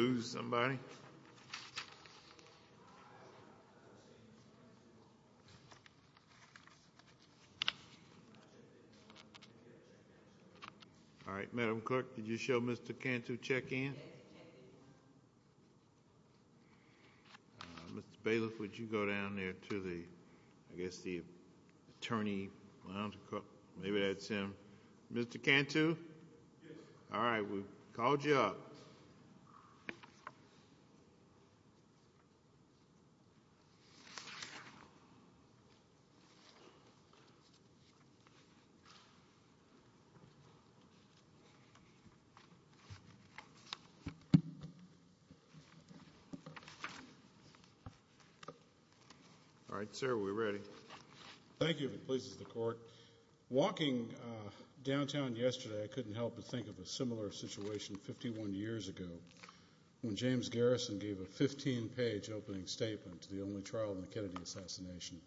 All right, Madam Clerk, did you show Mr. Cantu check-in? Mr. Bailiff, would you go down there to the, I guess, the attorney lounge? Maybe that's him. Mr. Cantu? All right, we've called you up. All right, sir, we're ready. Thank you, if it pleases the Court. Walking downtown yesterday, I couldn't help but think of a similar situation 51 years ago when James Garrison gave a 15-page opening statement to the only trial in the Kennedy assassination.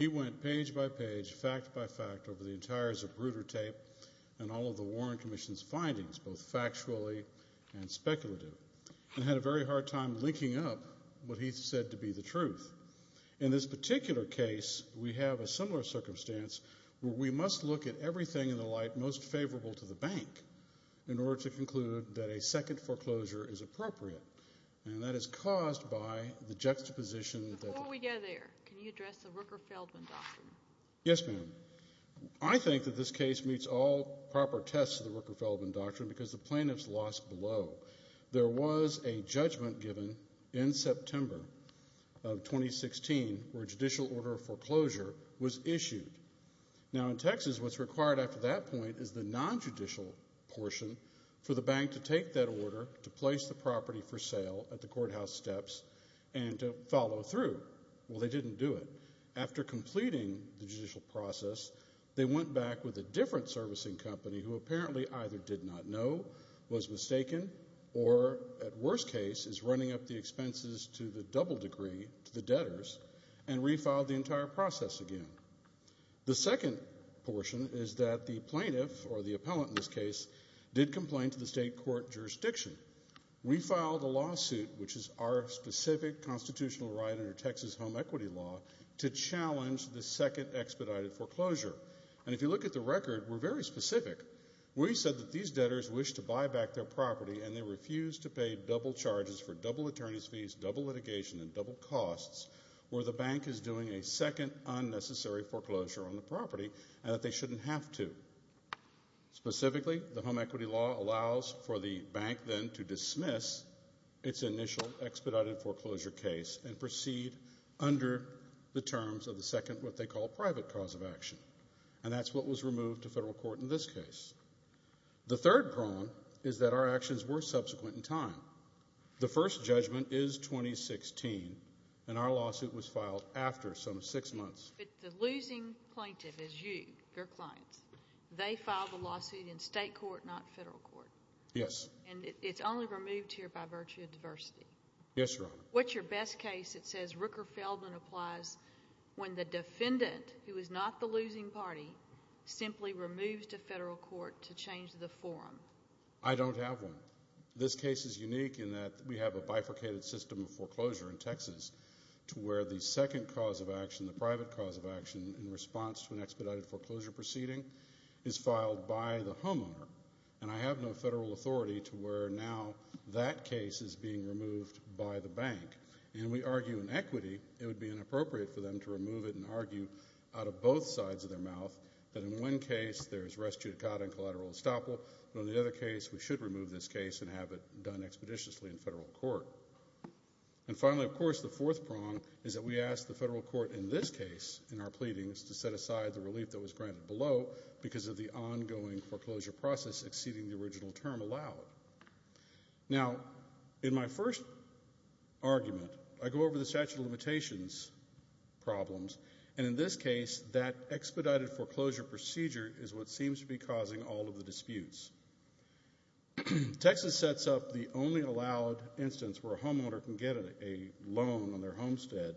He went page by page, fact by fact, over the entires of Bruder Tape and all of the Warren Commission's findings, both factually and speculative, and had a very hard time linking up what he said to be the truth. In this particular case, we have a similar circumstance where we must look at everything in the light most favorable to the bank in order to conclude that a second foreclosure is appropriate, and that is caused by the juxtaposition. Before we go there, can you address the Rooker-Feldman Doctrine? Yes, ma'am. I think that this case meets all proper tests of the Rooker-Feldman Doctrine because the plaintiff's loss below. There was a judgment given in September of 2016 where a judicial order of foreclosure was issued. Now, in Texas, what's required after that point is the non-judicial portion for the bank to take that order, to place the property for sale at the courthouse steps, and to follow through. Well, they didn't do it. After completing the judicial process, they went back with a different servicing company who apparently either did not know, was mistaken, or at worst case is running up the expenses to the double degree, to the debtors, and refiled the entire process again. The second portion is that the plaintiff, or the appellant in this case, did complain to the state court jurisdiction. We filed a lawsuit, which is our specific constitutional right under Texas home equity law, to challenge the second expedited foreclosure. And if you look at the record, we're very specific. We said that these debtors wished to buy back their property, and they refused to pay double charges for double attorney's fees, double litigation, and double costs, where the bank is doing a second unnecessary foreclosure on the property, and that they shouldn't have to. Specifically, the home equity law allows for the bank then to dismiss its initial expedited foreclosure case and proceed under the terms of the second what they call private cause of action, and that's what was removed to federal court in this case. The third problem is that our actions were subsequent in time. The first judgment is 2016, and our lawsuit was filed after some six months. But the losing plaintiff is you, your clients. They filed the lawsuit in state court, not federal court. Yes. And it's only removed here by virtue of diversity. Yes, Your Honor. What's your best case that says Rooker Feldman applies when the defendant, who is not the losing party, simply removes to federal court to change the forum? I don't have one. This case is unique in that we have a bifurcated system of foreclosure in Texas to where the second cause of action, the private cause of action, in response to an expedited foreclosure proceeding is filed by the homeowner, and I have no federal authority to where now that case is being removed by the bank. And we argue in equity it would be inappropriate for them to remove it and argue out of both sides of their mouth that in one case there's res judicata and collateral estoppel, but in the other case we should remove this case and have it done expeditiously in federal court. And finally, of course, the fourth prong is that we ask the federal court in this case in our pleadings to set aside the relief that was granted below because of the ongoing foreclosure process exceeding the original term allowed. Now, in my first argument, I go over the statute of limitations problems, and in this case that expedited foreclosure procedure is what seems to be causing all of the disputes. Texas sets up the only allowed instance where a homeowner can get a loan on their homestead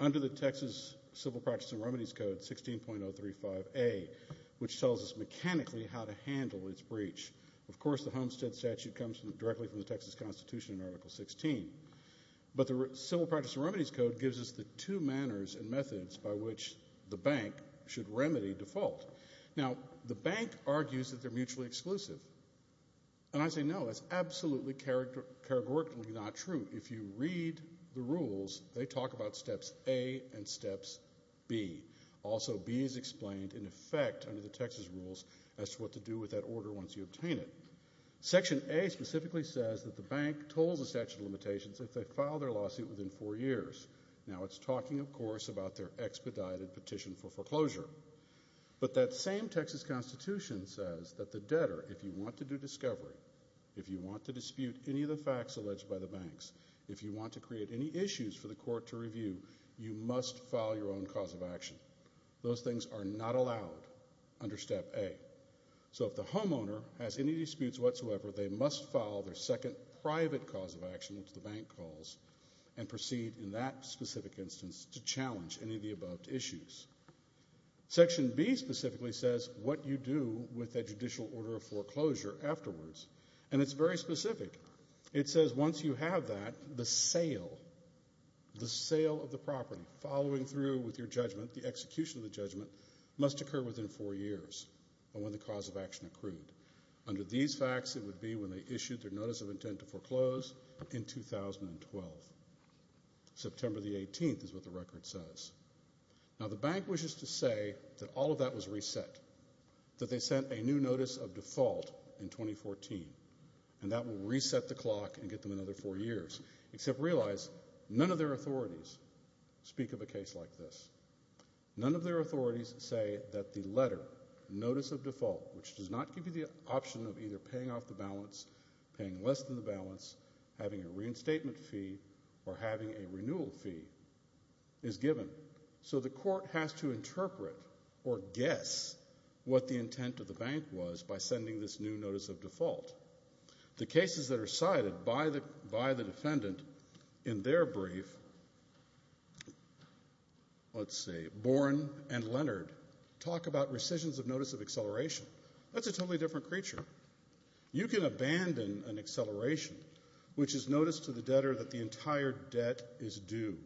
under the Texas Civil Practice and Remedies Code 16.035A, which tells us mechanically how to handle its breach. Of course, the homestead statute comes directly from the Texas Constitution in Article 16, but the Civil Practice and Remedies Code gives us the two manners and methods by which the bank should remedy default. Now, the bank argues that they're mutually exclusive, and I say no, that's absolutely categorically not true. If you read the rules, they talk about steps A and steps B. Also, B is explained in effect under the Texas rules as to what to do with that order once you obtain it. Section A specifically says that the bank tolls the statute of limitations if they file their lawsuit within four years. Now, it's talking, of course, about their expedited petition for foreclosure. But that same Texas Constitution says that the debtor, if you want to do discovery, if you want to dispute any of the facts alleged by the banks, if you want to create any issues for the court to review, you must file your own cause of action. Those things are not allowed under step A. So if the homeowner has any disputes whatsoever, they must file their second private cause of action, which the bank calls, and proceed in that specific instance to challenge any of the above issues. Section B specifically says what you do with a judicial order of foreclosure afterwards, and it's very specific. It says once you have that, the sale, the sale of the property, following through with your judgment, the execution of the judgment, must occur within four years of when the cause of action accrued. Under these facts, it would be when they issued their notice of intent to foreclose in 2012. September the 18th is what the record says. Now, the bank wishes to say that all of that was reset, that they sent a new notice of default in 2014, and that will reset the clock and get them another four years, except realize none of their authorities speak of a case like this. None of their authorities say that the letter, notice of default, which does not give you the option of either paying off the balance, paying less than the balance, having a reinstatement fee, or having a renewal fee, is given. So the court has to interpret or guess what the intent of the bank was by sending this new notice of default. The cases that are cited by the defendant in their brief, let's see, Boren and Leonard talk about rescissions of notice of acceleration. That's a totally different creature. You can abandon an acceleration, which is notice to the debtor that the entire debt is due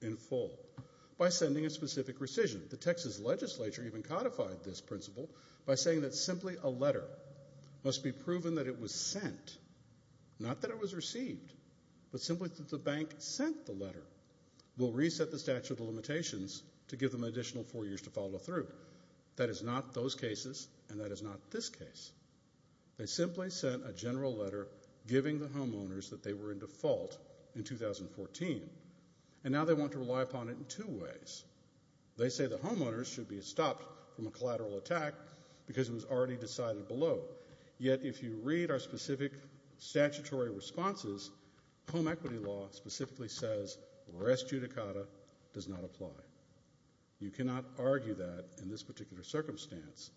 in full, by sending a specific rescission. The Texas legislature even codified this principle by saying that simply a letter must be proven that it was sent. Not that it was received, but simply that the bank sent the letter will reset the statute of limitations to give them an additional four years to follow through. That is not those cases, and that is not this case. They simply sent a general letter giving the homeowners that they were in default in 2014, and now they want to rely upon it in two ways. They say the homeowners should be stopped from a collateral attack because it was already decided below. Yet if you read our specific statutory responses, home equity law specifically says rest judicata does not apply. You cannot argue that in this particular circumstance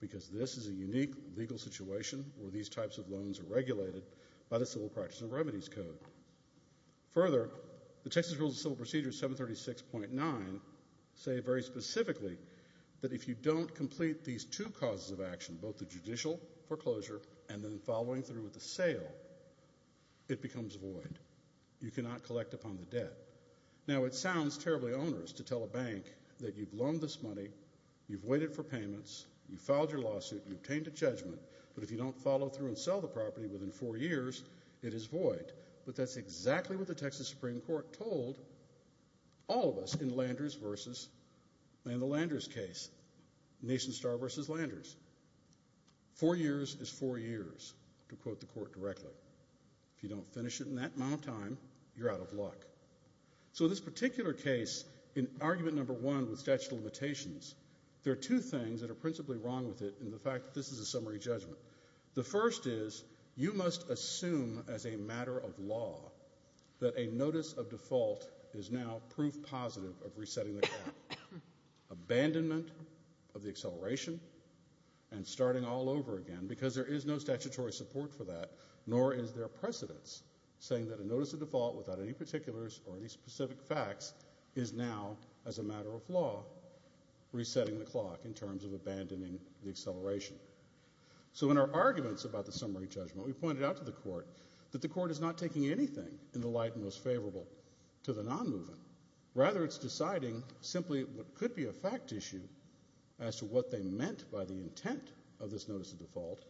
because this is a unique legal situation where these types of loans are regulated by the Civil Practice and Remedies Code. Further, the Texas Rules of Civil Procedure 736.9 say very specifically that if you don't complete these two causes of action, both the judicial foreclosure and then following through with the sale, it becomes void. You cannot collect upon the debt. Now it sounds terribly onerous to tell a bank that you've loaned this money, you've waited for payments, you've filed your lawsuit, you've obtained a judgment, but if you don't follow through and sell the property within four years, it is void. But that's exactly what the Texas Supreme Court told all of us in the Landers case, Nation Star versus Landers. Four years is four years, to quote the court directly. If you don't finish it in that amount of time, you're out of luck. So this particular case, in argument number one with statute of limitations, there are two things that are principally wrong with it in the fact that this is a summary judgment. The first is you must assume as a matter of law that a notice of default is now proof positive of resetting the clock. Abandonment of the acceleration and starting all over again because there is no statutory support for that, nor is there precedence saying that a notice of default without any particulars or any specific facts is now as a matter of law resetting the clock in terms of abandoning the acceleration. So in our arguments about the summary judgment, we pointed out to the court that the court is not taking anything in the light most favorable to the non-movement. Rather, it's deciding simply what could be a fact issue as to what they meant by the intent of this notice of default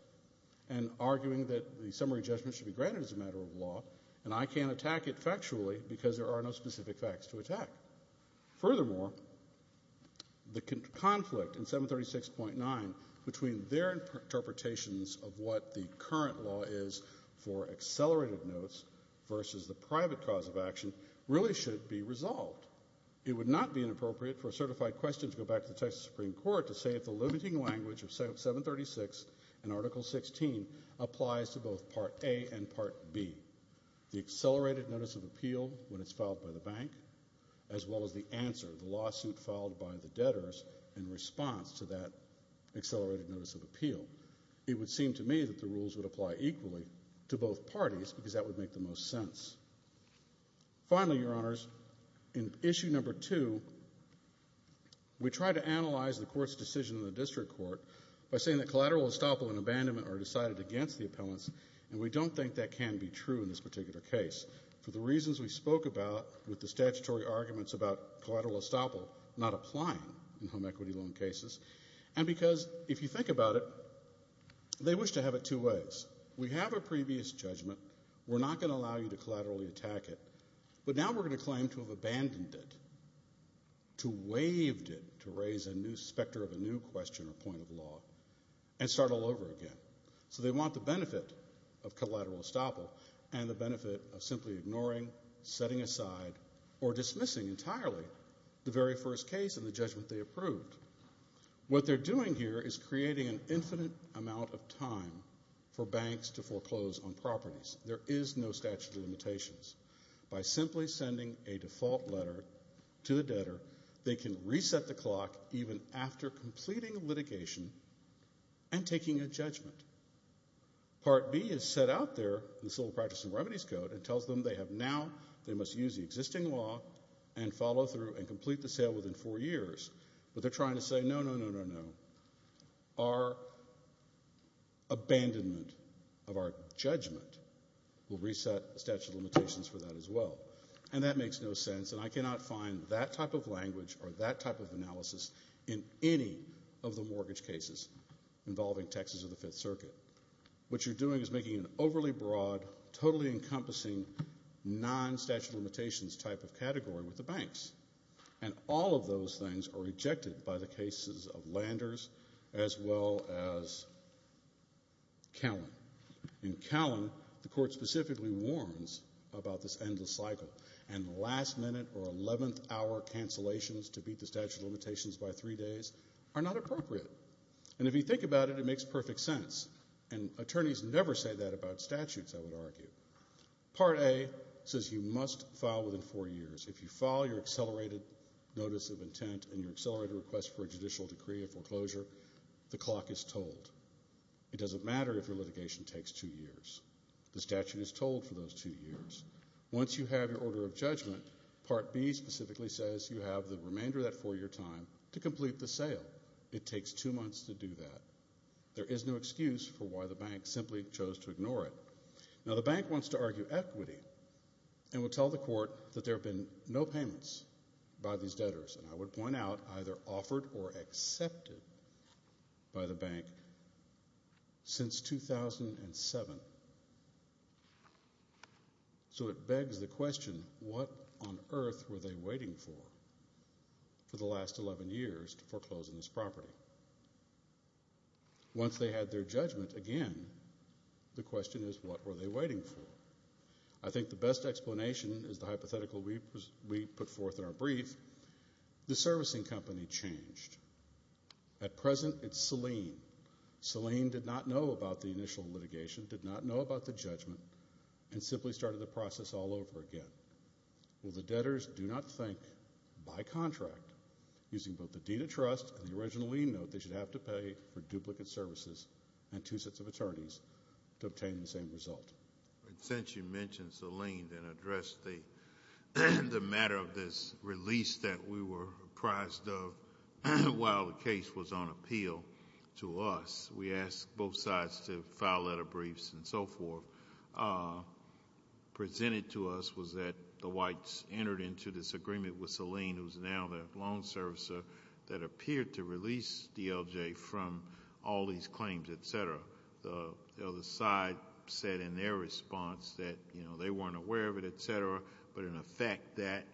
and arguing that the summary judgment should be granted as a matter of law and I can't attack it factually because there are no specific facts to attack. Furthermore, the conflict in 736.9 between their interpretations of what the current law is for accelerated notes versus the private cause of action really should be resolved. It would not be inappropriate for a certified question to go back to the Texas Supreme Court to say if the limiting language of 736 in Article 16 applies to both Part A and Part B, the accelerated notice of appeal when it's filed by the bank as well as the answer, the lawsuit filed by the debtors in response to that accelerated notice of appeal. It would seem to me that the rules would apply equally to both parties because that would make the most sense. Finally, Your Honors, in Issue No. 2, we tried to analyze the court's decision in the district court by saying that collateral estoppel and abandonment are decided against the appellants and we don't think that can be true in this particular case for the reasons we spoke about with the statutory arguments about collateral estoppel not applying in home equity loan cases and because if you think about it, they wish to have it two ways. We have a previous judgment. We're not going to allow you to collaterally attack it, but now we're going to claim to have abandoned it, to waived it, to raise a new specter of a new question or point of law and start all over again. So they want the benefit of collateral estoppel and the benefit of simply ignoring, setting aside, or dismissing entirely the very first case and the judgment they approved. What they're doing here is creating an infinite amount of time for banks to foreclose on properties. There is no statute of limitations. By simply sending a default letter to the debtor, they can reset the clock even after completing litigation and taking a judgment. Part B is set out there in the Civil Practice and Remedies Code and tells them they have now, they must use the existing law and follow through and complete the sale within four years, but they're trying to say, no, no, no, no, no. Our abandonment of our judgment will reset the statute of limitations for that as well. And that makes no sense, and I cannot find that type of language or that type of analysis in any of the mortgage cases involving Texas or the Fifth Circuit. What you're doing is making an overly broad, totally encompassing, non-statute of limitations type of category with the banks. And all of those things are rejected by the cases of Landers as well as Callan. In Callan, the court specifically warns about this endless cycle, and last-minute or 11th-hour cancellations to beat the statute of limitations by three days are not appropriate. And if you think about it, it makes perfect sense. And attorneys never say that about statutes, I would argue. Part A says you must file within four years. If you file your accelerated notice of intent and your accelerated request for a judicial decree of foreclosure, the clock is told. It doesn't matter if your litigation takes two years. The statute is told for those two years. Once you have your order of judgment, Part B specifically says you have the remainder of that four-year time to complete the sale. If you do that, it takes two months to do that. There is no excuse for why the bank simply chose to ignore it. Now, the bank wants to argue equity and will tell the court that there have been no payments by these debtors, and I would point out either offered or accepted by the bank since 2007. So it begs the question, what on earth were they waiting for for the last 11 years to foreclose on this property? Once they had their judgment again, the question is, what were they waiting for? I think the best explanation is the hypothetical we put forth in our brief. The servicing company changed. At present, it's Selene. Selene did not know about the initial litigation, did not know about the judgment, and simply started the process all over again. The debtors do not think, by contract, using both the deed of trust and the original lien note, they should have to pay for duplicate services and two sets of attorneys to obtain the same result. Since you mentioned Selene, then address the matter of this release that we were apprised of while the case was on appeal to us. We asked both sides to file letter briefs and so forth. What was presented to us was that the whites entered into this agreement with Selene, who's now the loan servicer, that appeared to release DLJ from all these claims, et cetera. The other side said in their response that they weren't aware of it, et cetera, but in effect that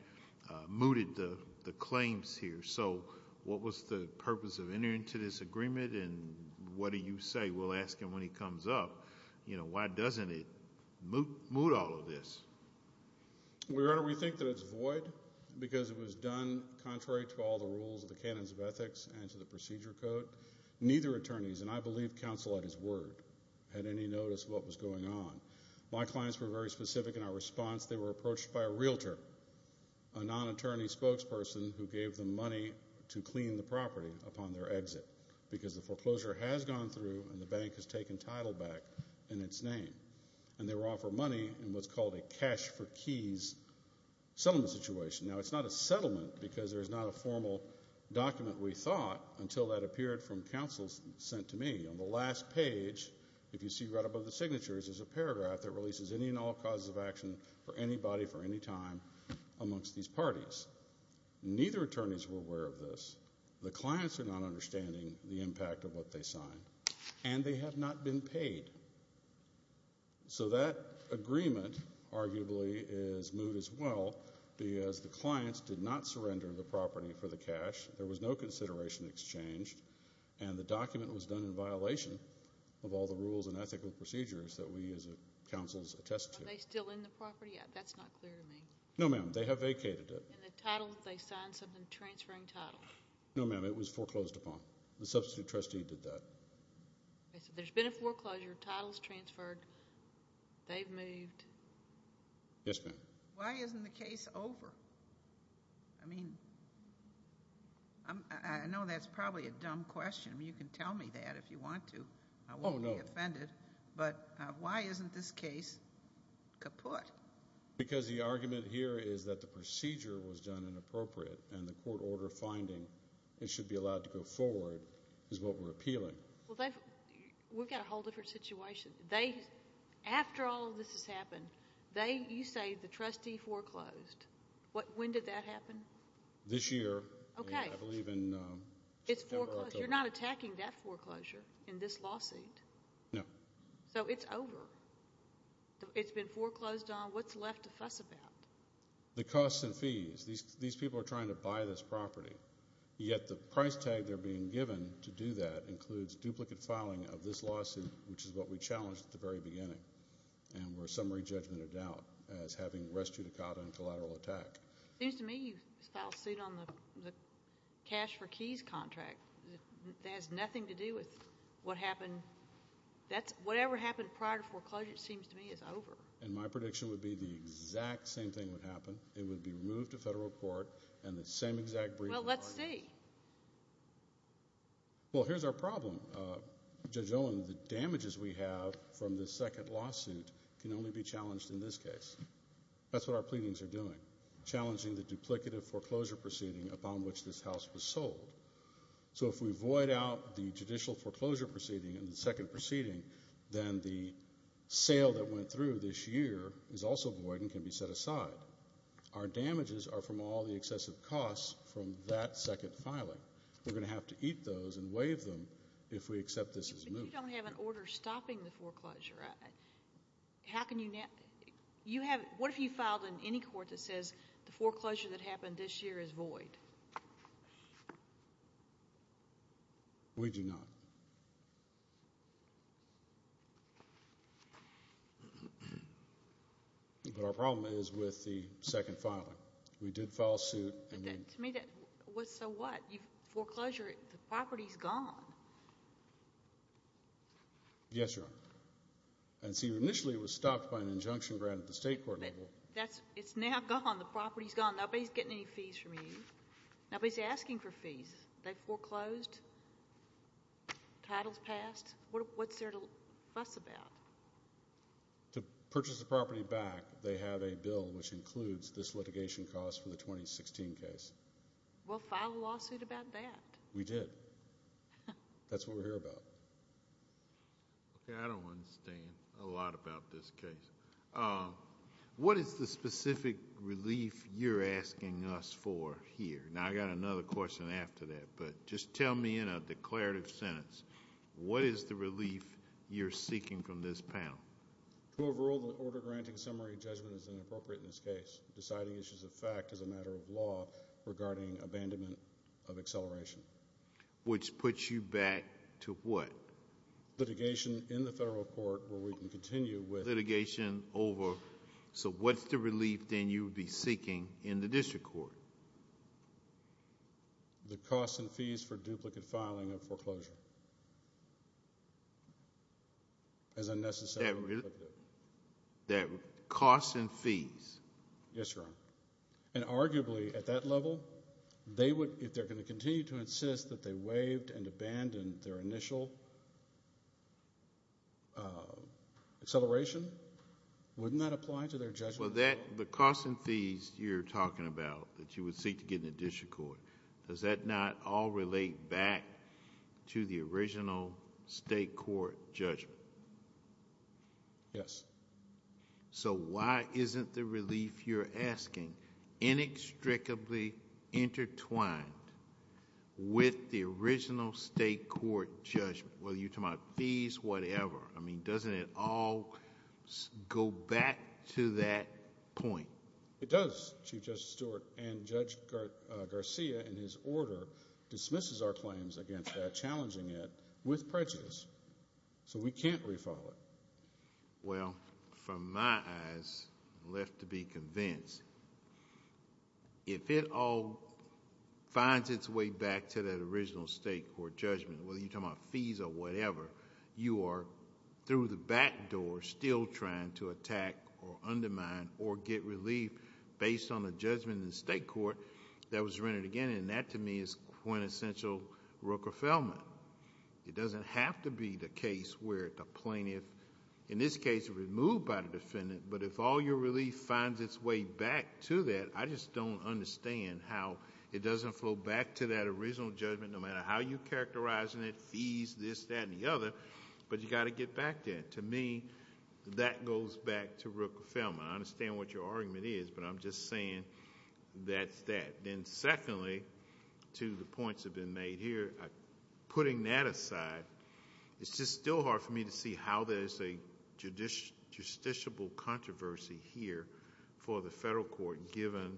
mooted the claims here. So what was the purpose of entering into this agreement, and what do you say? We'll ask him when he comes up. Why doesn't it moot all of this? We think that it's void because it was done contrary to all the rules, the canons of ethics, and to the procedure code. Neither attorneys, and I believe counsel at his word, had any notice of what was going on. My clients were very specific in our response. They were approached by a realtor, a non-attorney spokesperson, who gave them money to clean the property upon their exit because the foreclosure has gone through and the bank has taken title back in its name. And they were offered money in what's called a cash-for-keys settlement situation. Now, it's not a settlement because there's not a formal document, we thought, until that appeared from counsel sent to me. On the last page, if you see right above the signatures, there's a paragraph that releases any and all causes of action for anybody for any time amongst these parties. Neither attorneys were aware of this. The clients are not understanding the impact of what they signed, and they have not been paid. So that agreement, arguably, is moved as well because the clients did not surrender the property for the cash. There was no consideration exchanged, and the document was done in violation of all the rules and ethical procedures that we as counsels attest to. Are they still in the property? That's not clear to me. No, ma'am. They have vacated it. In the title, they signed something transferring title. No, ma'am. It was foreclosed upon. The substitute trustee did that. There's been a foreclosure. Title's transferred. They've moved. Yes, ma'am. Why isn't the case over? I mean, I know that's probably a dumb question. You can tell me that if you want to. I won't be offended. But why isn't this case kaput? Because the argument here is that the procedure was done inappropriate and the court order finding it should be allowed to go forward is what we're appealing. Well, we've got a whole different situation. After all of this has happened, you say the trustee foreclosed. When did that happen? This year. Okay. I believe in September, October. You're not attacking that foreclosure in this lawsuit. No. So it's over. It's been foreclosed on. What's left to fuss about? The costs and fees. These people are trying to buy this property, yet the price tag they're being given to do that includes duplicate filing of this lawsuit, which is what we challenged at the very beginning and were a summary judgment of doubt as having res judicata and collateral attack. It seems to me you filed suit on the cash for keys contract. That has nothing to do with what happened. Whatever happened prior to foreclosure, it seems to me, is over. And my prediction would be the exact same thing would happen. It would be removed to federal court and the same exact briefing. Well, let's see. Well, here's our problem. Judge Owen, the damages we have from this second lawsuit can only be challenged in this case. That's what our pleadings are doing, challenging the duplicative foreclosure proceeding upon which this house was sold. So if we void out the judicial foreclosure proceeding and the second proceeding, then the sale that went through this year is also void and can be set aside. Our damages are from all the excessive costs from that second filing. We're going to have to eat those and waive them if we accept this as moved. But you don't have an order stopping the foreclosure. What if you filed in any court that says the foreclosure that happened this year is void? We do not. But our problem is with the second filing. We did file suit. To me, so what? Foreclosure, the property's gone. Yes, Your Honor. And see, initially it was stopped by an injunction granted at the state court level. It's now gone. The property's gone. Nobody's getting any fees from you. Nobody's asking for fees. They foreclosed. Title's passed. What's there to fuss about? To purchase the property back, they have a bill which includes this litigation cost for the 2016 case. Well, file a lawsuit about that. We did. That's what we're here about. Okay, I don't understand a lot about this case. What is the specific relief you're asking us for here? Now, I've got another question after that, but just tell me in a declarative sentence, what is the relief you're seeking from this panel? Overall, the order granting summary judgment is inappropriate in this case. Deciding issues of fact is a matter of law regarding abandonment of acceleration. Which puts you back to what? Litigation in the federal court where we can continue with litigation over. So what's the relief then you would be seeking in the district court? The costs and fees for duplicate filing of foreclosure. As unnecessary. That costs and fees. Yes, Your Honor. And arguably at that level, if they're going to continue to insist that they waived and abandoned their initial acceleration, wouldn't that apply to their judgment? Well, the costs and fees you're talking about that you would seek to get in the district court, does that not all relate back to the original state court judgment? Yes. So why isn't the relief you're asking inextricably intertwined with the original state court judgment? Whether you're talking about fees, whatever. I mean, doesn't it all go back to that point? It does, Chief Justice Stewart. And Judge Garcia, in his order, dismisses our claims against that, challenging it with prejudice. So we can't refile it. Well, from my eyes, left to be convinced, if it all finds its way back to that original state court judgment, whether you're talking about fees or whatever, you are through the back door still trying to attack or undermine or get relief based on a judgment in the state court that was rendered again, and that to me is quintessential Rooker-Feldman. It doesn't have to be the case where the plaintiff, in this case, is removed by the defendant, but if all your relief finds its way back to that, I just don't understand how it doesn't flow back to that original judgment, no matter how you characterize it, fees, this, that, and the other, but you've got to get back to it. To me, that goes back to Rooker-Feldman. I understand what your argument is, but I'm just saying that's that. Then secondly, to the points that have been made here, putting that aside, it's just still hard for me to see how there's a justiciable controversy here for the federal court, given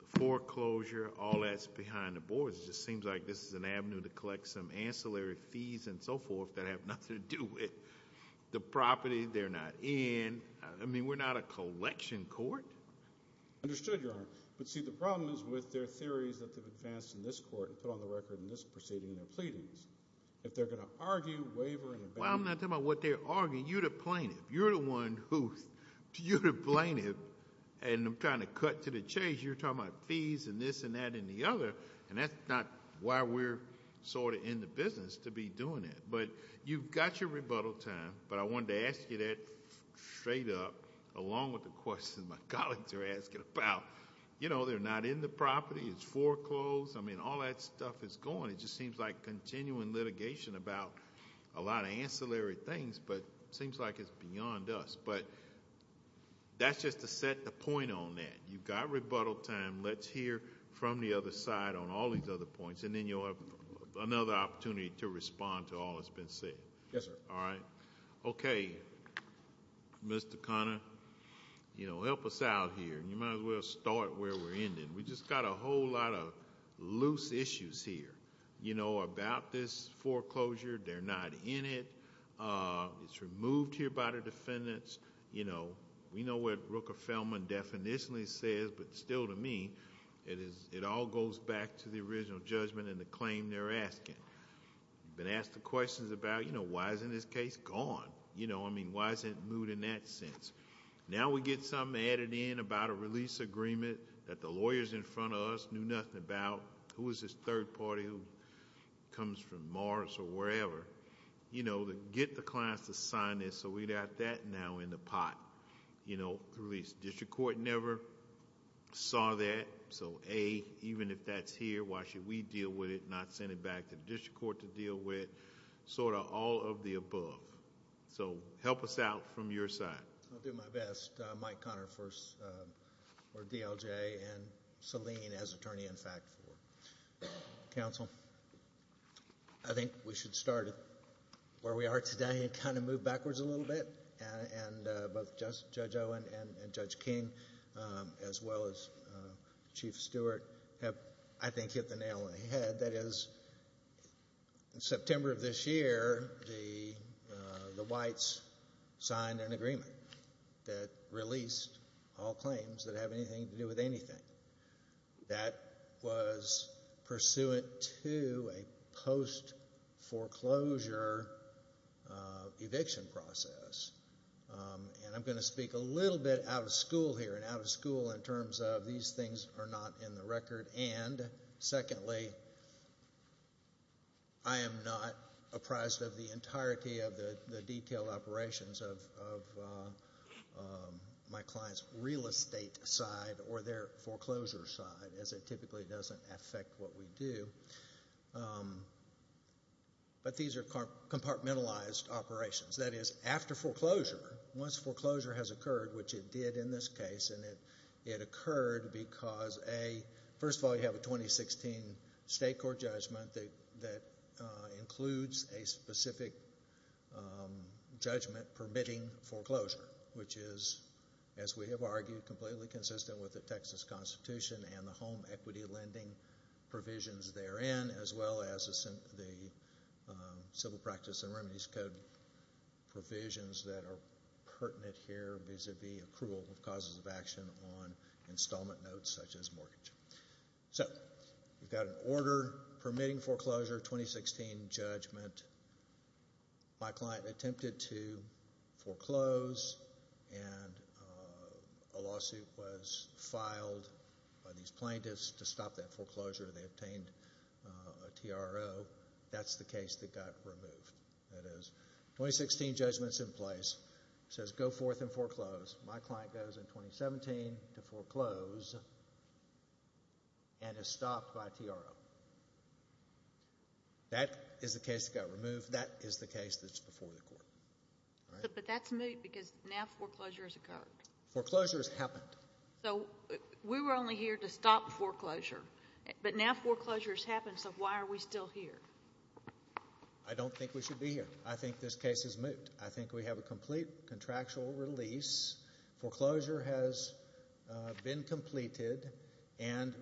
the foreclosure, all that's behind the boards. It just seems like this is an avenue to collect some ancillary fees and so forth that have nothing to do with the property they're not in. I mean, we're not a collection court. Understood, Your Honor. But see, the problem is with their theories that have advanced in this court and put on the record in this proceeding and their pleadings. If they're going to argue, waver, and abandon— Well, I'm not talking about what they're arguing. You're the plaintiff. You're the one who's—you're the plaintiff, and I'm trying to cut to the chase. You're talking about fees and this and that and the other, and that's not why we're sort of in the business to be doing it. But you've got your rebuttal time, but I wanted to ask you that straight up, along with the questions my colleagues are asking about. You know, they're not in the property. It's foreclosed. I mean, all that stuff is going. It just seems like continuing litigation about a lot of ancillary things, but it seems like it's beyond us. But that's just to set the point on that. You've got rebuttal time. Let's hear from the other side on all these other points, and then you'll have another opportunity to respond to all that's been said. Yes, sir. All right. Okay, Mr. Conner, help us out here. You might as well start where we're ending. We've just got a whole lot of loose issues here about this foreclosure. They're not in it. It's removed here by the defendants. We know what Rooker-Feldman definitionally says, but still to me, it all goes back to the original judgment and the claim they're asking. We've been asked the questions about, you know, why isn't this case gone? You know, I mean, why isn't it moved in that sense? Now we get something added in about a release agreement that the lawyers in front of us knew nothing about. Who is this third party who comes from Morris or wherever? You know, get the clients to sign this so we got that now in the pot. You know, the release. The district court never saw that. So, A, even if that's here, why should we deal with it, not send it back to the district court to deal with? Sort of all of the above. So help us out from your side. I'll do my best. Mike Conner first, or DLJ, and Selene as attorney in fact. Counsel? I think we should start where we are today and kind of move backwards a little bit. And both Judge Owen and Judge King, as well as Chief Stewart, have, I think, hit the nail on the head. That is, in September of this year, the whites signed an agreement that released all claims that have anything to do with anything. That was pursuant to a post-foreclosure eviction process. And I'm going to speak a little bit out of school here, and out of school in terms of these things are not in the record. Secondly, I am not apprised of the entirety of the detailed operations of my client's real estate side or their foreclosure side, as it typically doesn't affect what we do. But these are compartmentalized operations. That is, after foreclosure, once foreclosure has occurred, which it did in this case, and it occurred because, A, first of all, you have a 2016 state court judgment that includes a specific judgment permitting foreclosure, which is, as we have argued, completely consistent with the Texas Constitution and the home equity lending provisions therein, as well as the Civil Practice and Remedies Code provisions that are pertinent here, vis-a-vis accrual of causes of action on installment notes such as mortgage. So we've got an order permitting foreclosure, 2016 judgment. My client attempted to foreclose, and a lawsuit was filed by these plaintiffs to stop that foreclosure. They obtained a TRO. That's the case that got removed. That is, 2016 judgment's in place, says go forth and foreclose. My client goes in 2017 to foreclose and is stopped by TRO. That is the case that got removed. That is the case that's before the court. But that's moot because now foreclosure has occurred. Foreclosure has happened. So we were only here to stop foreclosure, but now foreclosure has happened, so why are we still here? I don't think we should be here. I think this case is moot. I think we have a complete contractual release. Foreclosure has been completed, and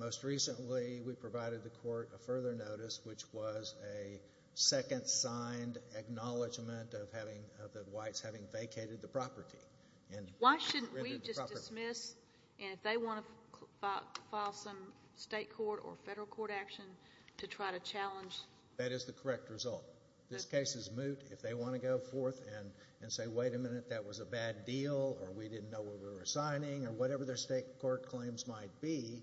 most recently we provided the court a further notice, which was a second signed acknowledgment of the whites having vacated the property. Why shouldn't we just dismiss, and if they want to file some state court or federal court action to try to challenge? That is the correct result. This case is moot if they want to go forth and say, wait a minute, that was a bad deal, or we didn't know what we were signing, or whatever their state court claims might be,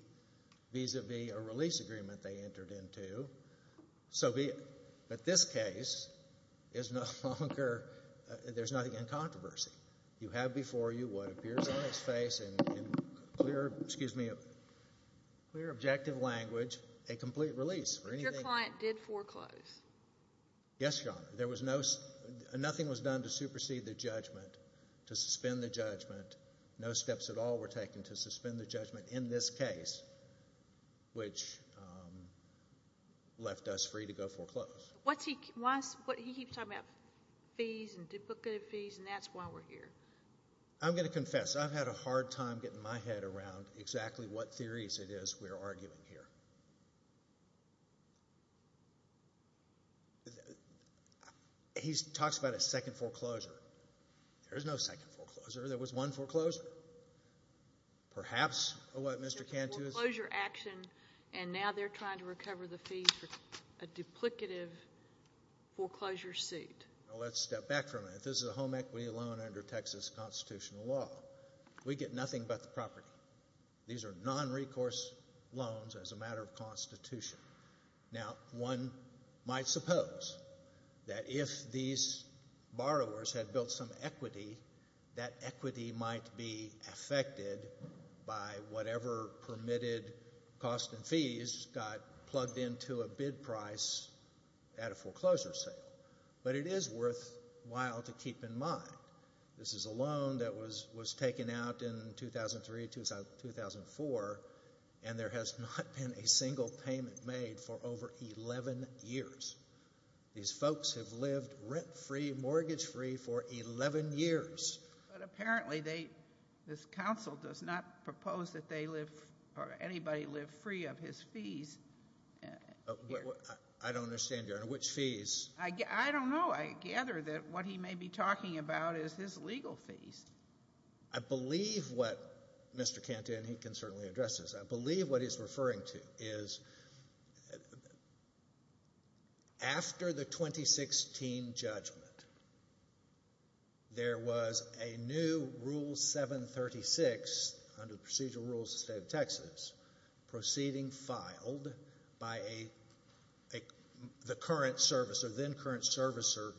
vis-à-vis a release agreement they entered into. But this case is no longer, there's nothing in controversy. You have before you what appears on its face in clear objective language, a complete release. Your client did foreclose. Yes, Your Honor. Nothing was done to supersede the judgment, to suspend the judgment. No steps at all were taken to suspend the judgment in this case, which left us free to go foreclose. He keeps talking about fees and duplicative fees, and that's why we're here. I'm going to confess. I've had a hard time getting my head around exactly what theories it is we're arguing here. He talks about a second foreclosure. There's no second foreclosure. There was one foreclosure. Perhaps what Mr. Cantu is saying. A foreclosure action, and now they're trying to recover the fees for a duplicative foreclosure suit. Let's step back for a minute. This is a home equity loan under Texas constitutional law. We get nothing but the property. These are nonrecourse loans as a matter of constitution. Now, one might suppose that if these borrowers had built some equity, that equity might be affected by whatever permitted costs and fees got plugged into a bid price at a foreclosure sale, but it is worthwhile to keep in mind. This is a loan that was taken out in 2003, 2004, and there has not been a single payment made for over 11 years. These folks have lived rent-free, mortgage-free for 11 years. But apparently this council does not propose that they live or anybody live free of his fees. I don't understand, Your Honor. Which fees? I don't know. I gather that what he may be talking about is his legal fees. I believe what Mr. Cantu, and he can certainly address this, I believe what he's referring to is after the 2016 judgment, there was a new Rule 736 under procedural rules of the state of Texas proceeding filed by the current servicer, then current servicer,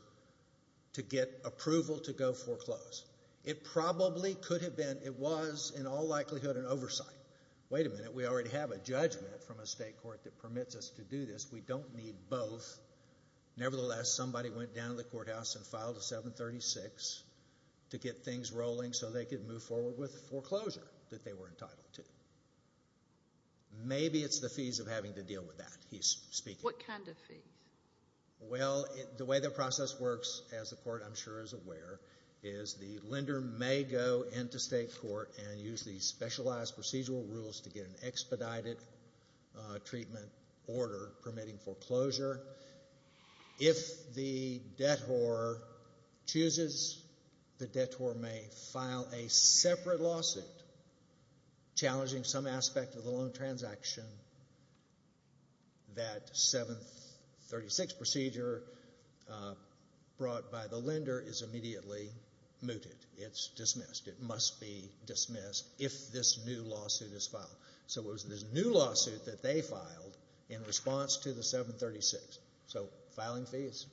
to get approval to go foreclose. It probably could have been, it was in all likelihood an oversight. Wait a minute, we already have a judgment from a state court that permits us to do this. We don't need both. Nevertheless, somebody went down to the courthouse and filed a 736 to get things rolling so they could move forward with foreclosure that they were entitled to. Maybe it's the fees of having to deal with that, he's speaking. What kind of fees? Well, the way the process works, as the court I'm sure is aware, is the lender may go into state court and use these specialized procedural rules to get an expedited treatment order permitting foreclosure. If the debtor chooses, the debtor may file a separate lawsuit challenging some aspect of the loan transaction. That 736 procedure brought by the lender is immediately mooted. It's dismissed. It must be dismissed if this new lawsuit is filed. So it was this new lawsuit that they filed in response to the 736. So filing fees,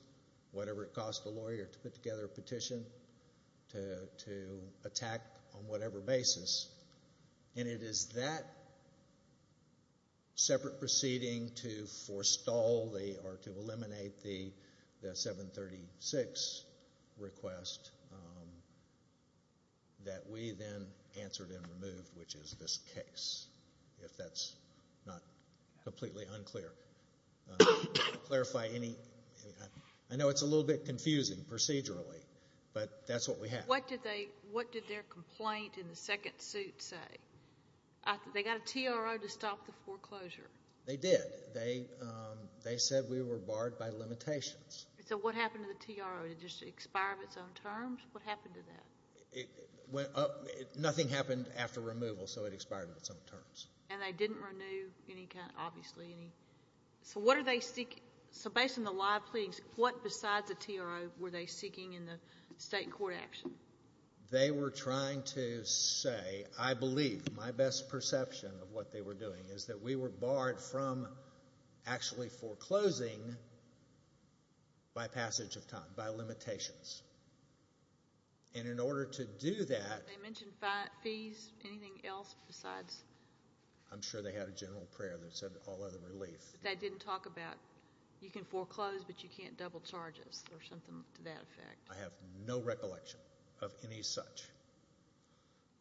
whatever it cost the lawyer to put together a petition to attack on whatever basis, and it is that separate proceeding to forestall or to eliminate the 736 request that we then answered and removed, which is this case, if that's not completely unclear. To clarify, I know it's a little bit confusing procedurally, but that's what we have. What did their complaint in the second suit say? They got a TRO to stop the foreclosure. They did. They said we were barred by limitations. So what happened to the TRO? Did it just expire on its own terms? What happened to that? Nothing happened after removal, so it expired on its own terms. And they didn't renew any kind of, obviously, any. So what are they seeking? So based on the live pleadings, what besides the TRO were they seeking in the state court action? They were trying to say, I believe, my best perception of what they were doing, is that we were barred from actually foreclosing by passage of time, by limitations. And in order to do that. Did they mention fees? Anything else besides? I'm sure they had a general prayer that said all other relief. They didn't talk about, you can foreclose, but you can't double charge us, or something to that effect. I have no recollection of any such.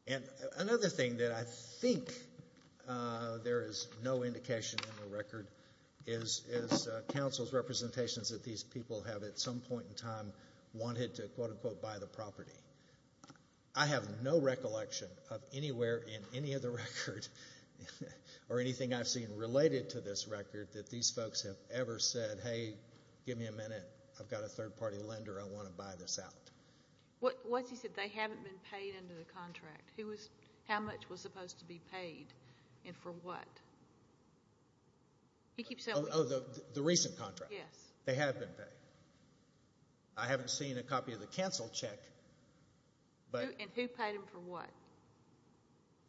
And another thing that I think there is no indication in the record is counsel's representations that these people have at some point in time wanted to, quote, unquote, buy the property. I have no recollection of anywhere in any of the record, or anything I've seen related to this record, that these folks have ever said, hey, give me a minute. I've got a third-party lender. I want to buy this out. What's he said? They haven't been paid under the contract. How much was supposed to be paid, and for what? Oh, the recent contract. Yes. They have been paid. I haven't seen a copy of the counsel check. And who paid them for what?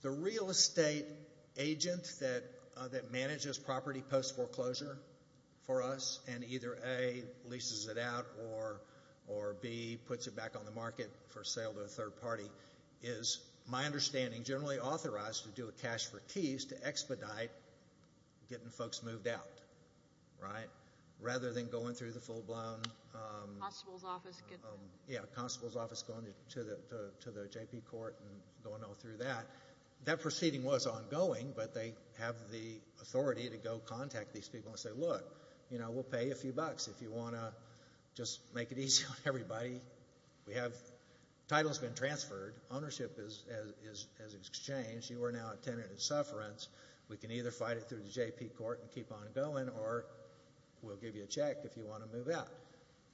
The real estate agent that manages property post-foreclosure for us, and either A, leases it out, or B, puts it back on the market for sale to a third party, is, my understanding, generally authorized to do a cash-for-keys to expedite getting folks moved out, right, the constable's office going to the JP court and going all through that. That proceeding was ongoing, but they have the authority to go contact these people and say, look, you know, we'll pay you a few bucks if you want to just make it easy on everybody. The title has been transferred. Ownership has exchanged. You are now a tenant at Sufferance. We can either fight it through the JP court and keep on going, or we'll give you a check if you want to move out.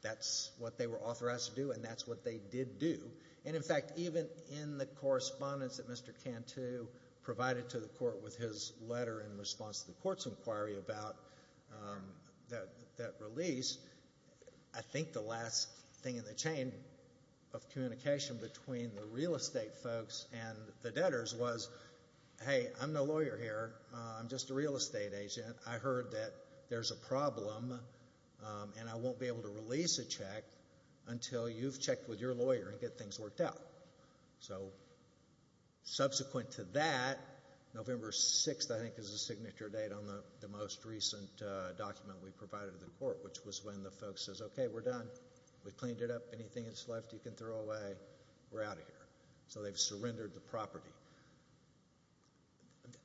That's what they were authorized to do, and that's what they did do. And, in fact, even in the correspondence that Mr. Cantu provided to the court with his letter in response to the court's inquiry about that release, I think the last thing in the chain of communication between the real estate folks and the debtors was, hey, I'm no lawyer here. I'm just a real estate agent. I heard that there's a problem, and I won't be able to release a check until you've checked with your lawyer and get things worked out. So subsequent to that, November 6th, I think, is the signature date on the most recent document we provided to the court, which was when the folks said, okay, we're done. We cleaned it up. Anything that's left you can throw away. We're out of here. So they've surrendered the property.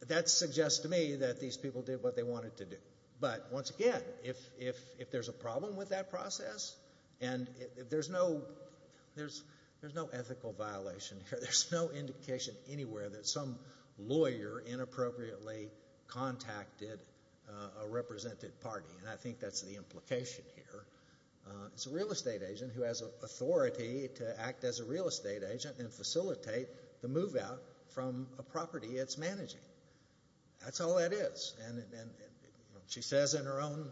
That suggests to me that these people did what they wanted to do. But, once again, if there's a problem with that process and there's no ethical violation here, there's no indication anywhere that some lawyer inappropriately contacted a represented party, and I think that's the implication here. It's a real estate agent who has authority to act as a real estate agent and facilitate the move out from a property it's managing. That's all that is. She says in her own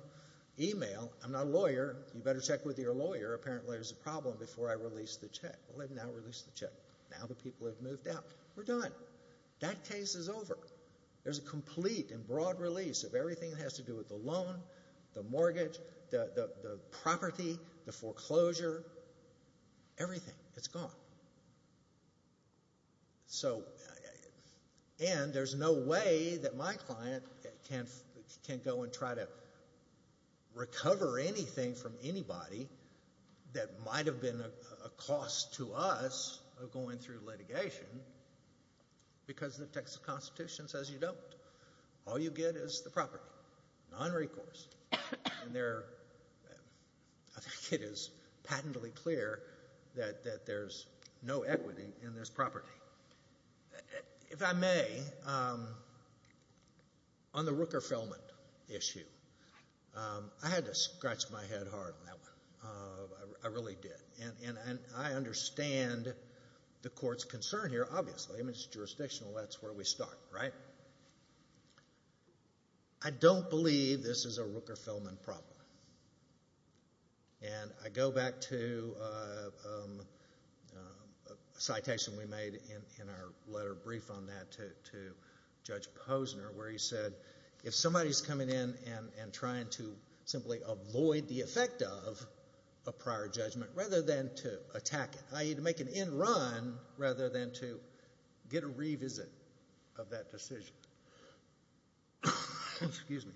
email, I'm not a lawyer. You better check with your lawyer. Apparently there's a problem before I release the check. Well, they've now released the check. Now the people have moved out. We're done. That case is over. There's a complete and broad release of everything that has to do with the loan, the mortgage, the property, the foreclosure, everything. It's gone. And there's no way that my client can go and try to recover anything from anybody that might have been a cost to us of going through litigation because the text of the Constitution says you don't. All you get is the property, non-recourse. And I think it is patently clear that there's no equity in this property. If I may, on the Rooker-Feldman issue, I had to scratch my head hard on that one. I really did. And I understand the court's concern here, obviously. I mean, it's jurisdictional. That's where we start, right? I don't believe this is a Rooker-Feldman problem. And I go back to a citation we made in our letter brief on that to Judge Posner where he said if somebody's coming in and trying to simply avoid the effect of a prior judgment rather than to attack it, i.e., to make an end run rather than to get a revisit of that decision,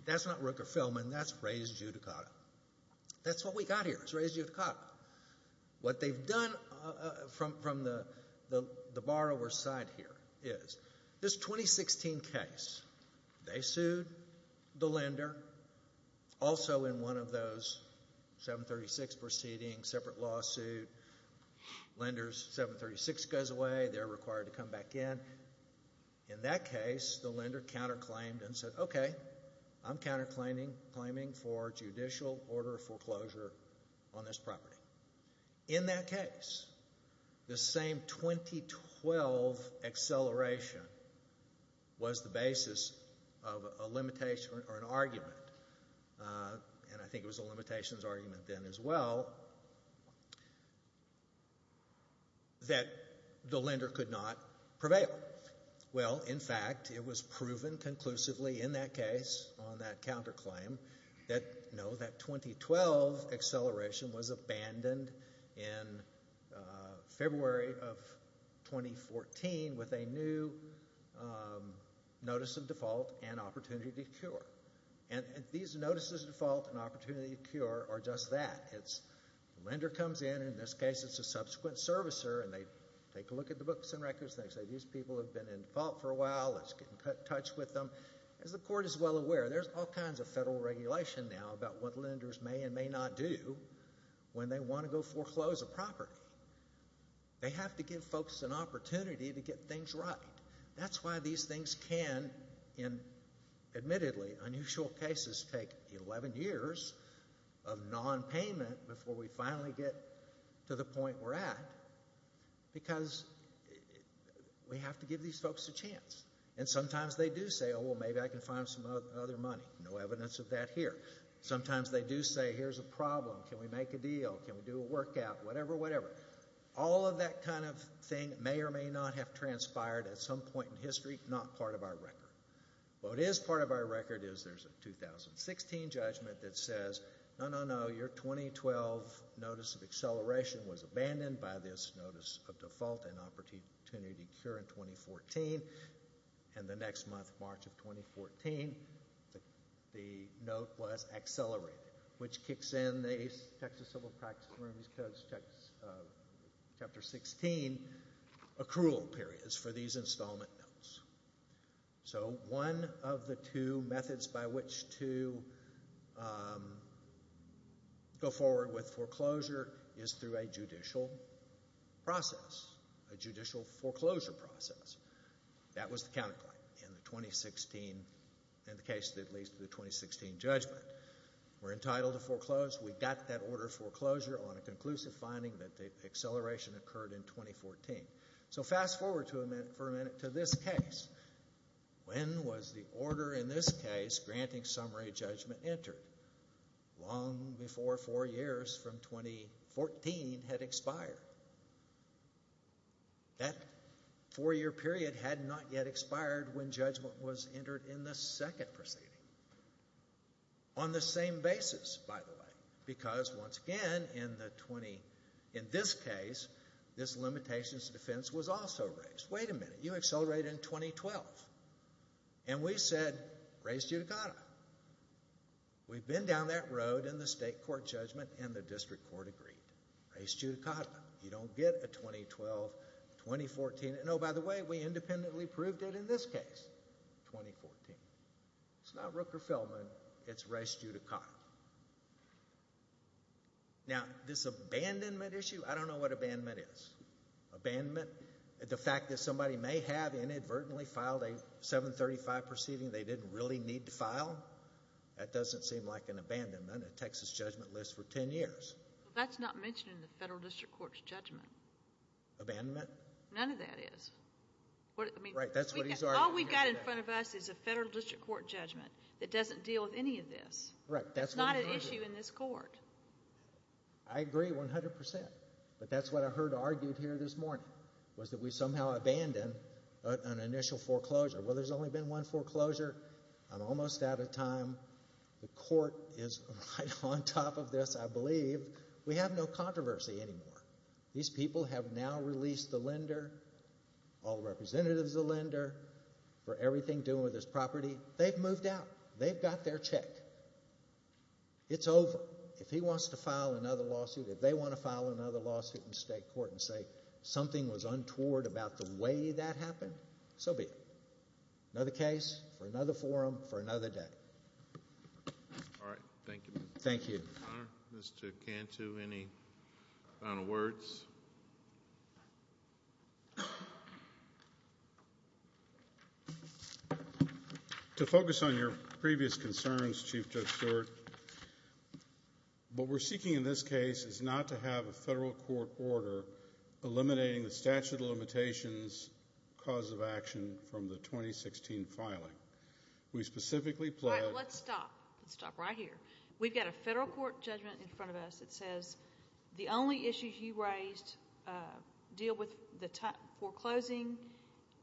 that's not Rooker-Feldman. That's res judicata. That's what we got here is res judicata. What they've done from the borrower's side here is this 2016 case, they sued the lender also in one of those 736 proceedings, separate lawsuit. Lenders, 736 goes away. They're required to come back in. In that case, the lender counterclaimed and said, okay, I'm counterclaiming for judicial order of foreclosure on this property. In that case, the same 2012 acceleration was the basis of a limitation or an argument, and I think it was a limitations argument then as well, that the lender could not prevail. Well, in fact, it was proven conclusively in that case on that counterclaim that no, that 2012 acceleration was abandoned in February of 2014 with a new notice of default and opportunity to cure. And these notices of default and opportunity to cure are just that. The lender comes in, and in this case it's a subsequent servicer, and they take a look at the books and records, and they say these people have been in default for a while. Let's get in touch with them. As the court is well aware, there's all kinds of federal regulation now about what lenders may and may not do when they want to go foreclose a property. They have to give folks an opportunity to get things right. That's why these things can, admittedly, in unusual cases, take 11 years of nonpayment before we finally get to the point we're at because we have to give these folks a chance. And sometimes they do say, oh, well, maybe I can find some other money. No evidence of that here. Sometimes they do say, here's a problem. Can we make a deal? Can we do a workout? Whatever, whatever. All of that kind of thing may or may not have transpired at some point in history, not part of our record. What is part of our record is there's a 2016 judgment that says, no, no, no, your 2012 notice of acceleration was abandoned by this notice of default and opportunity to incur in 2014. And the next month, March of 2014, the note was accelerated, which kicks in the Texas Civil Practice and Remedies Code, Chapter 16 accrual periods for these installment notes. So one of the two methods by which to go forward with foreclosure is through a judicial process, a judicial foreclosure process. That was the counterpoint in the 2016, in the case that leads to the 2016 judgment. We're entitled to foreclose. We got that order of foreclosure on a conclusive finding that the acceleration occurred in 2014. So fast forward for a minute to this case. When was the order in this case granting summary judgment entered? Long before four years from 2014 had expired. That four-year period had not yet expired when judgment was entered in the second proceeding. On the same basis, by the way, because once again in the 20, in this case, this limitations to defense was also raised. Wait a minute, you accelerated in 2012. And we said, raise judicata. We've been down that road in the state court judgment and the district court agreed. Raise judicata. You don't get a 2012, 2014. And, oh, by the way, we independently proved it in this case, 2014. It's not Rooker-Feldman. It's raise judicata. Now, this abandonment issue, I don't know what abandonment is. Abandonment, the fact that somebody may have inadvertently filed a 735 proceeding they didn't really need to file, that doesn't seem like an abandonment, a Texas judgment list for 10 years. That's not mentioned in the federal district court's judgment. Abandonment? None of that is. Right, that's what he's arguing. All we've got in front of us is a federal district court judgment that doesn't deal with any of this. That's not an issue in this court. I agree 100 percent, but that's what I heard argued here this morning was that we somehow abandoned an initial foreclosure. Well, there's only been one foreclosure. I'm almost out of time. The court is right on top of this, I believe. We have no controversy anymore. These people have now released the lender, all representatives of the lender, for everything doing with his property. They've moved out. They've got their check. It's over. If he wants to file another lawsuit, if they want to file another lawsuit in state court and say something was untoward about the way that happened, so be it. Another case for another forum for another day. All right. Thank you. Thank you. Mr. Cantu, any final words? To focus on your previous concerns, Chief Judge Stewart, what we're seeking in this case is not to have a federal court order eliminating the statute of limitations cause of action from the 2016 filing. We specifically pledge to All right. Let's stop. Let's stop right here. We've got a federal court judgment in front of us. It says the only issues you raised deal with the foreclosing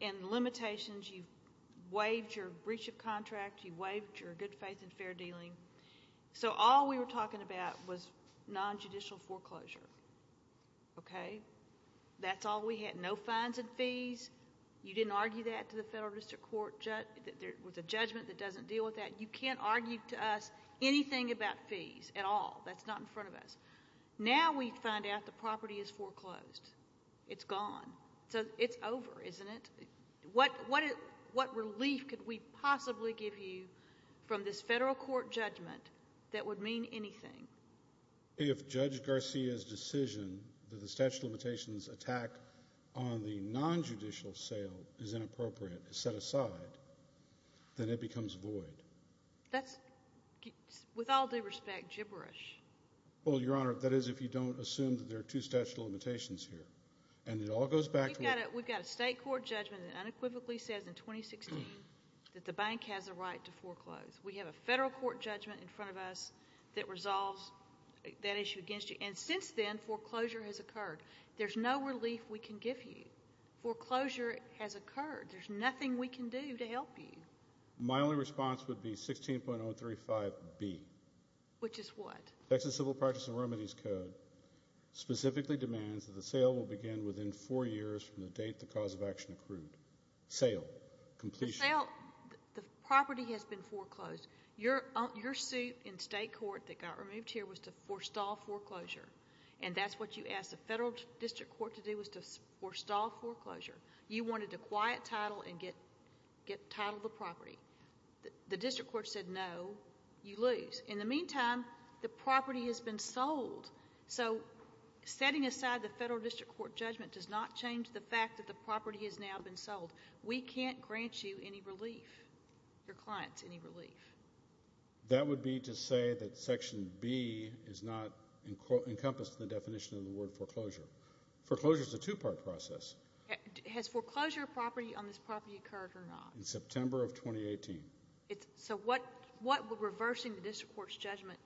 and limitations. You waived your breach of contract. You waived your good faith and fair dealing. So all we were talking about was nonjudicial foreclosure. Okay? That's all we had. No fines and fees. You didn't argue that to the federal district court. There was a judgment that doesn't deal with that. You can't argue to us anything about fees at all. That's not in front of us. Now we find out the property is foreclosed. It's gone. So it's over, isn't it? What relief could we possibly give you from this federal court judgment that would mean anything? If Judge Garcia's decision that the statute of limitations attack on the nonjudicial sale is inappropriate, is set aside, then it becomes void. That's, with all due respect, gibberish. Well, Your Honor, that is if you don't assume that there are two statute of limitations here. And it all goes back to what We've got a state court judgment that unequivocally says in 2016 that the bank has a right to foreclose. We have a federal court judgment in front of us that resolves that issue against you. And since then, foreclosure has occurred. There's no relief we can give you. Foreclosure has occurred. There's nothing we can do to help you. My only response would be 16.035B. Which is what? Texas Civil Practice and Remedies Code specifically demands that the sale will begin within four years from the date the cause of action accrued. Sale. Completion. The property has been foreclosed. Your suit in state court that got removed here was to forestall foreclosure. And that's what you asked the federal district court to do was to forestall foreclosure. You wanted to quiet title and get title of the property. The district court said no. You lose. In the meantime, the property has been sold. So setting aside the federal district court judgment does not change the fact that the property has now been sold. We can't grant you any relief, your clients any relief. That would be to say that Section B is not encompassed in the definition of the word foreclosure. Foreclosure is a two-part process. Has foreclosure property on this property occurred or not? In September of 2018. So what would reversing the district court's judgment,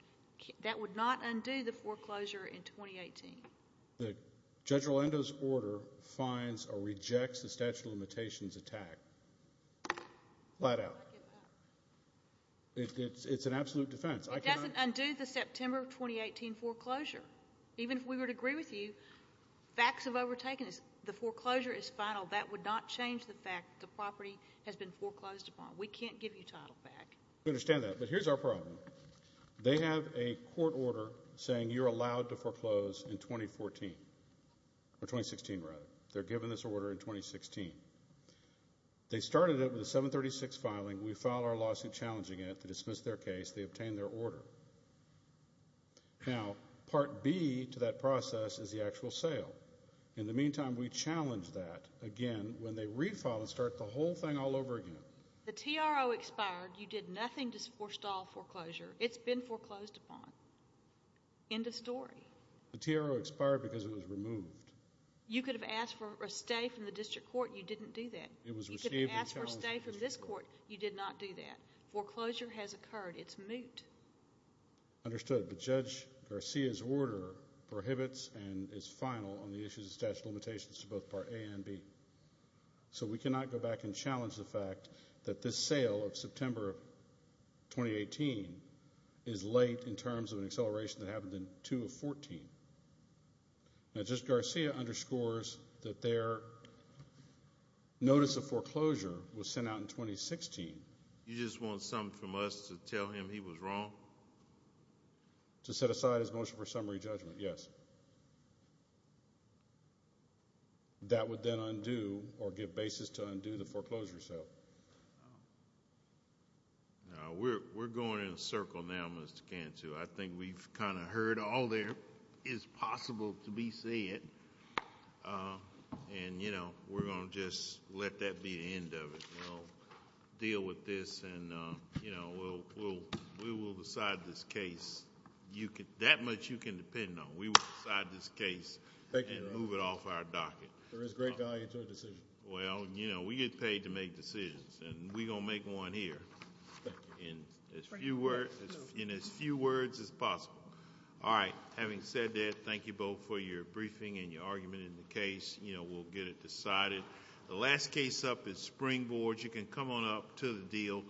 that would not undo the foreclosure in 2018? Judge Orlando's order finds or rejects the statute of limitations attack. Flat out. It's an absolute defense. It doesn't undo the September of 2018 foreclosure. Even if we would agree with you, facts have overtaken us. The foreclosure is final. That would not change the fact that the property has been foreclosed upon. We can't give you title back. I understand that. But here's our problem. They have a court order saying you're allowed to foreclose in 2014. Or 2016, rather. They're given this order in 2016. They started it with a 736 filing. We filed our lawsuit challenging it. They dismissed their case. They obtained their order. Now, Part B to that process is the actual sale. In the meantime, we challenge that again when they refile and start the whole thing all over again. The TRO expired. You did nothing to forestall foreclosure. It's been foreclosed upon. End of story. The TRO expired because it was removed. You could have asked for a stay from the district court. You didn't do that. You could have asked for a stay from this court. You did not do that. Foreclosure has occurred. It's moot. Understood. But Judge Garcia's order prohibits and is final on the issues of statute of limitations to both Part A and B. So we cannot go back and challenge the fact that this sale of September of 2018 is late in terms of an acceleration that happened in 2 of 14. Now, Judge Garcia underscores that their notice of foreclosure was sent out in 2016. You just want something from us to tell him he was wrong? To set aside his motion for summary judgment, yes. That would then undo or give basis to undo the foreclosure sale. We're going in a circle now, Mr. Cantu. I think we've kind of heard all there is possible to be said, and we're going to just let that be the end of it. We'll deal with this, and we will decide this case. That much you can depend on. We will decide this case and move it off our docket. There is great value to a decision. Well, we get paid to make decisions, and we're going to make one here in as few words as possible. All right. Having said that, thank you both for your briefing and your argument in the case. We'll get it decided. The last case up is Springboard. You can come on up to the deal.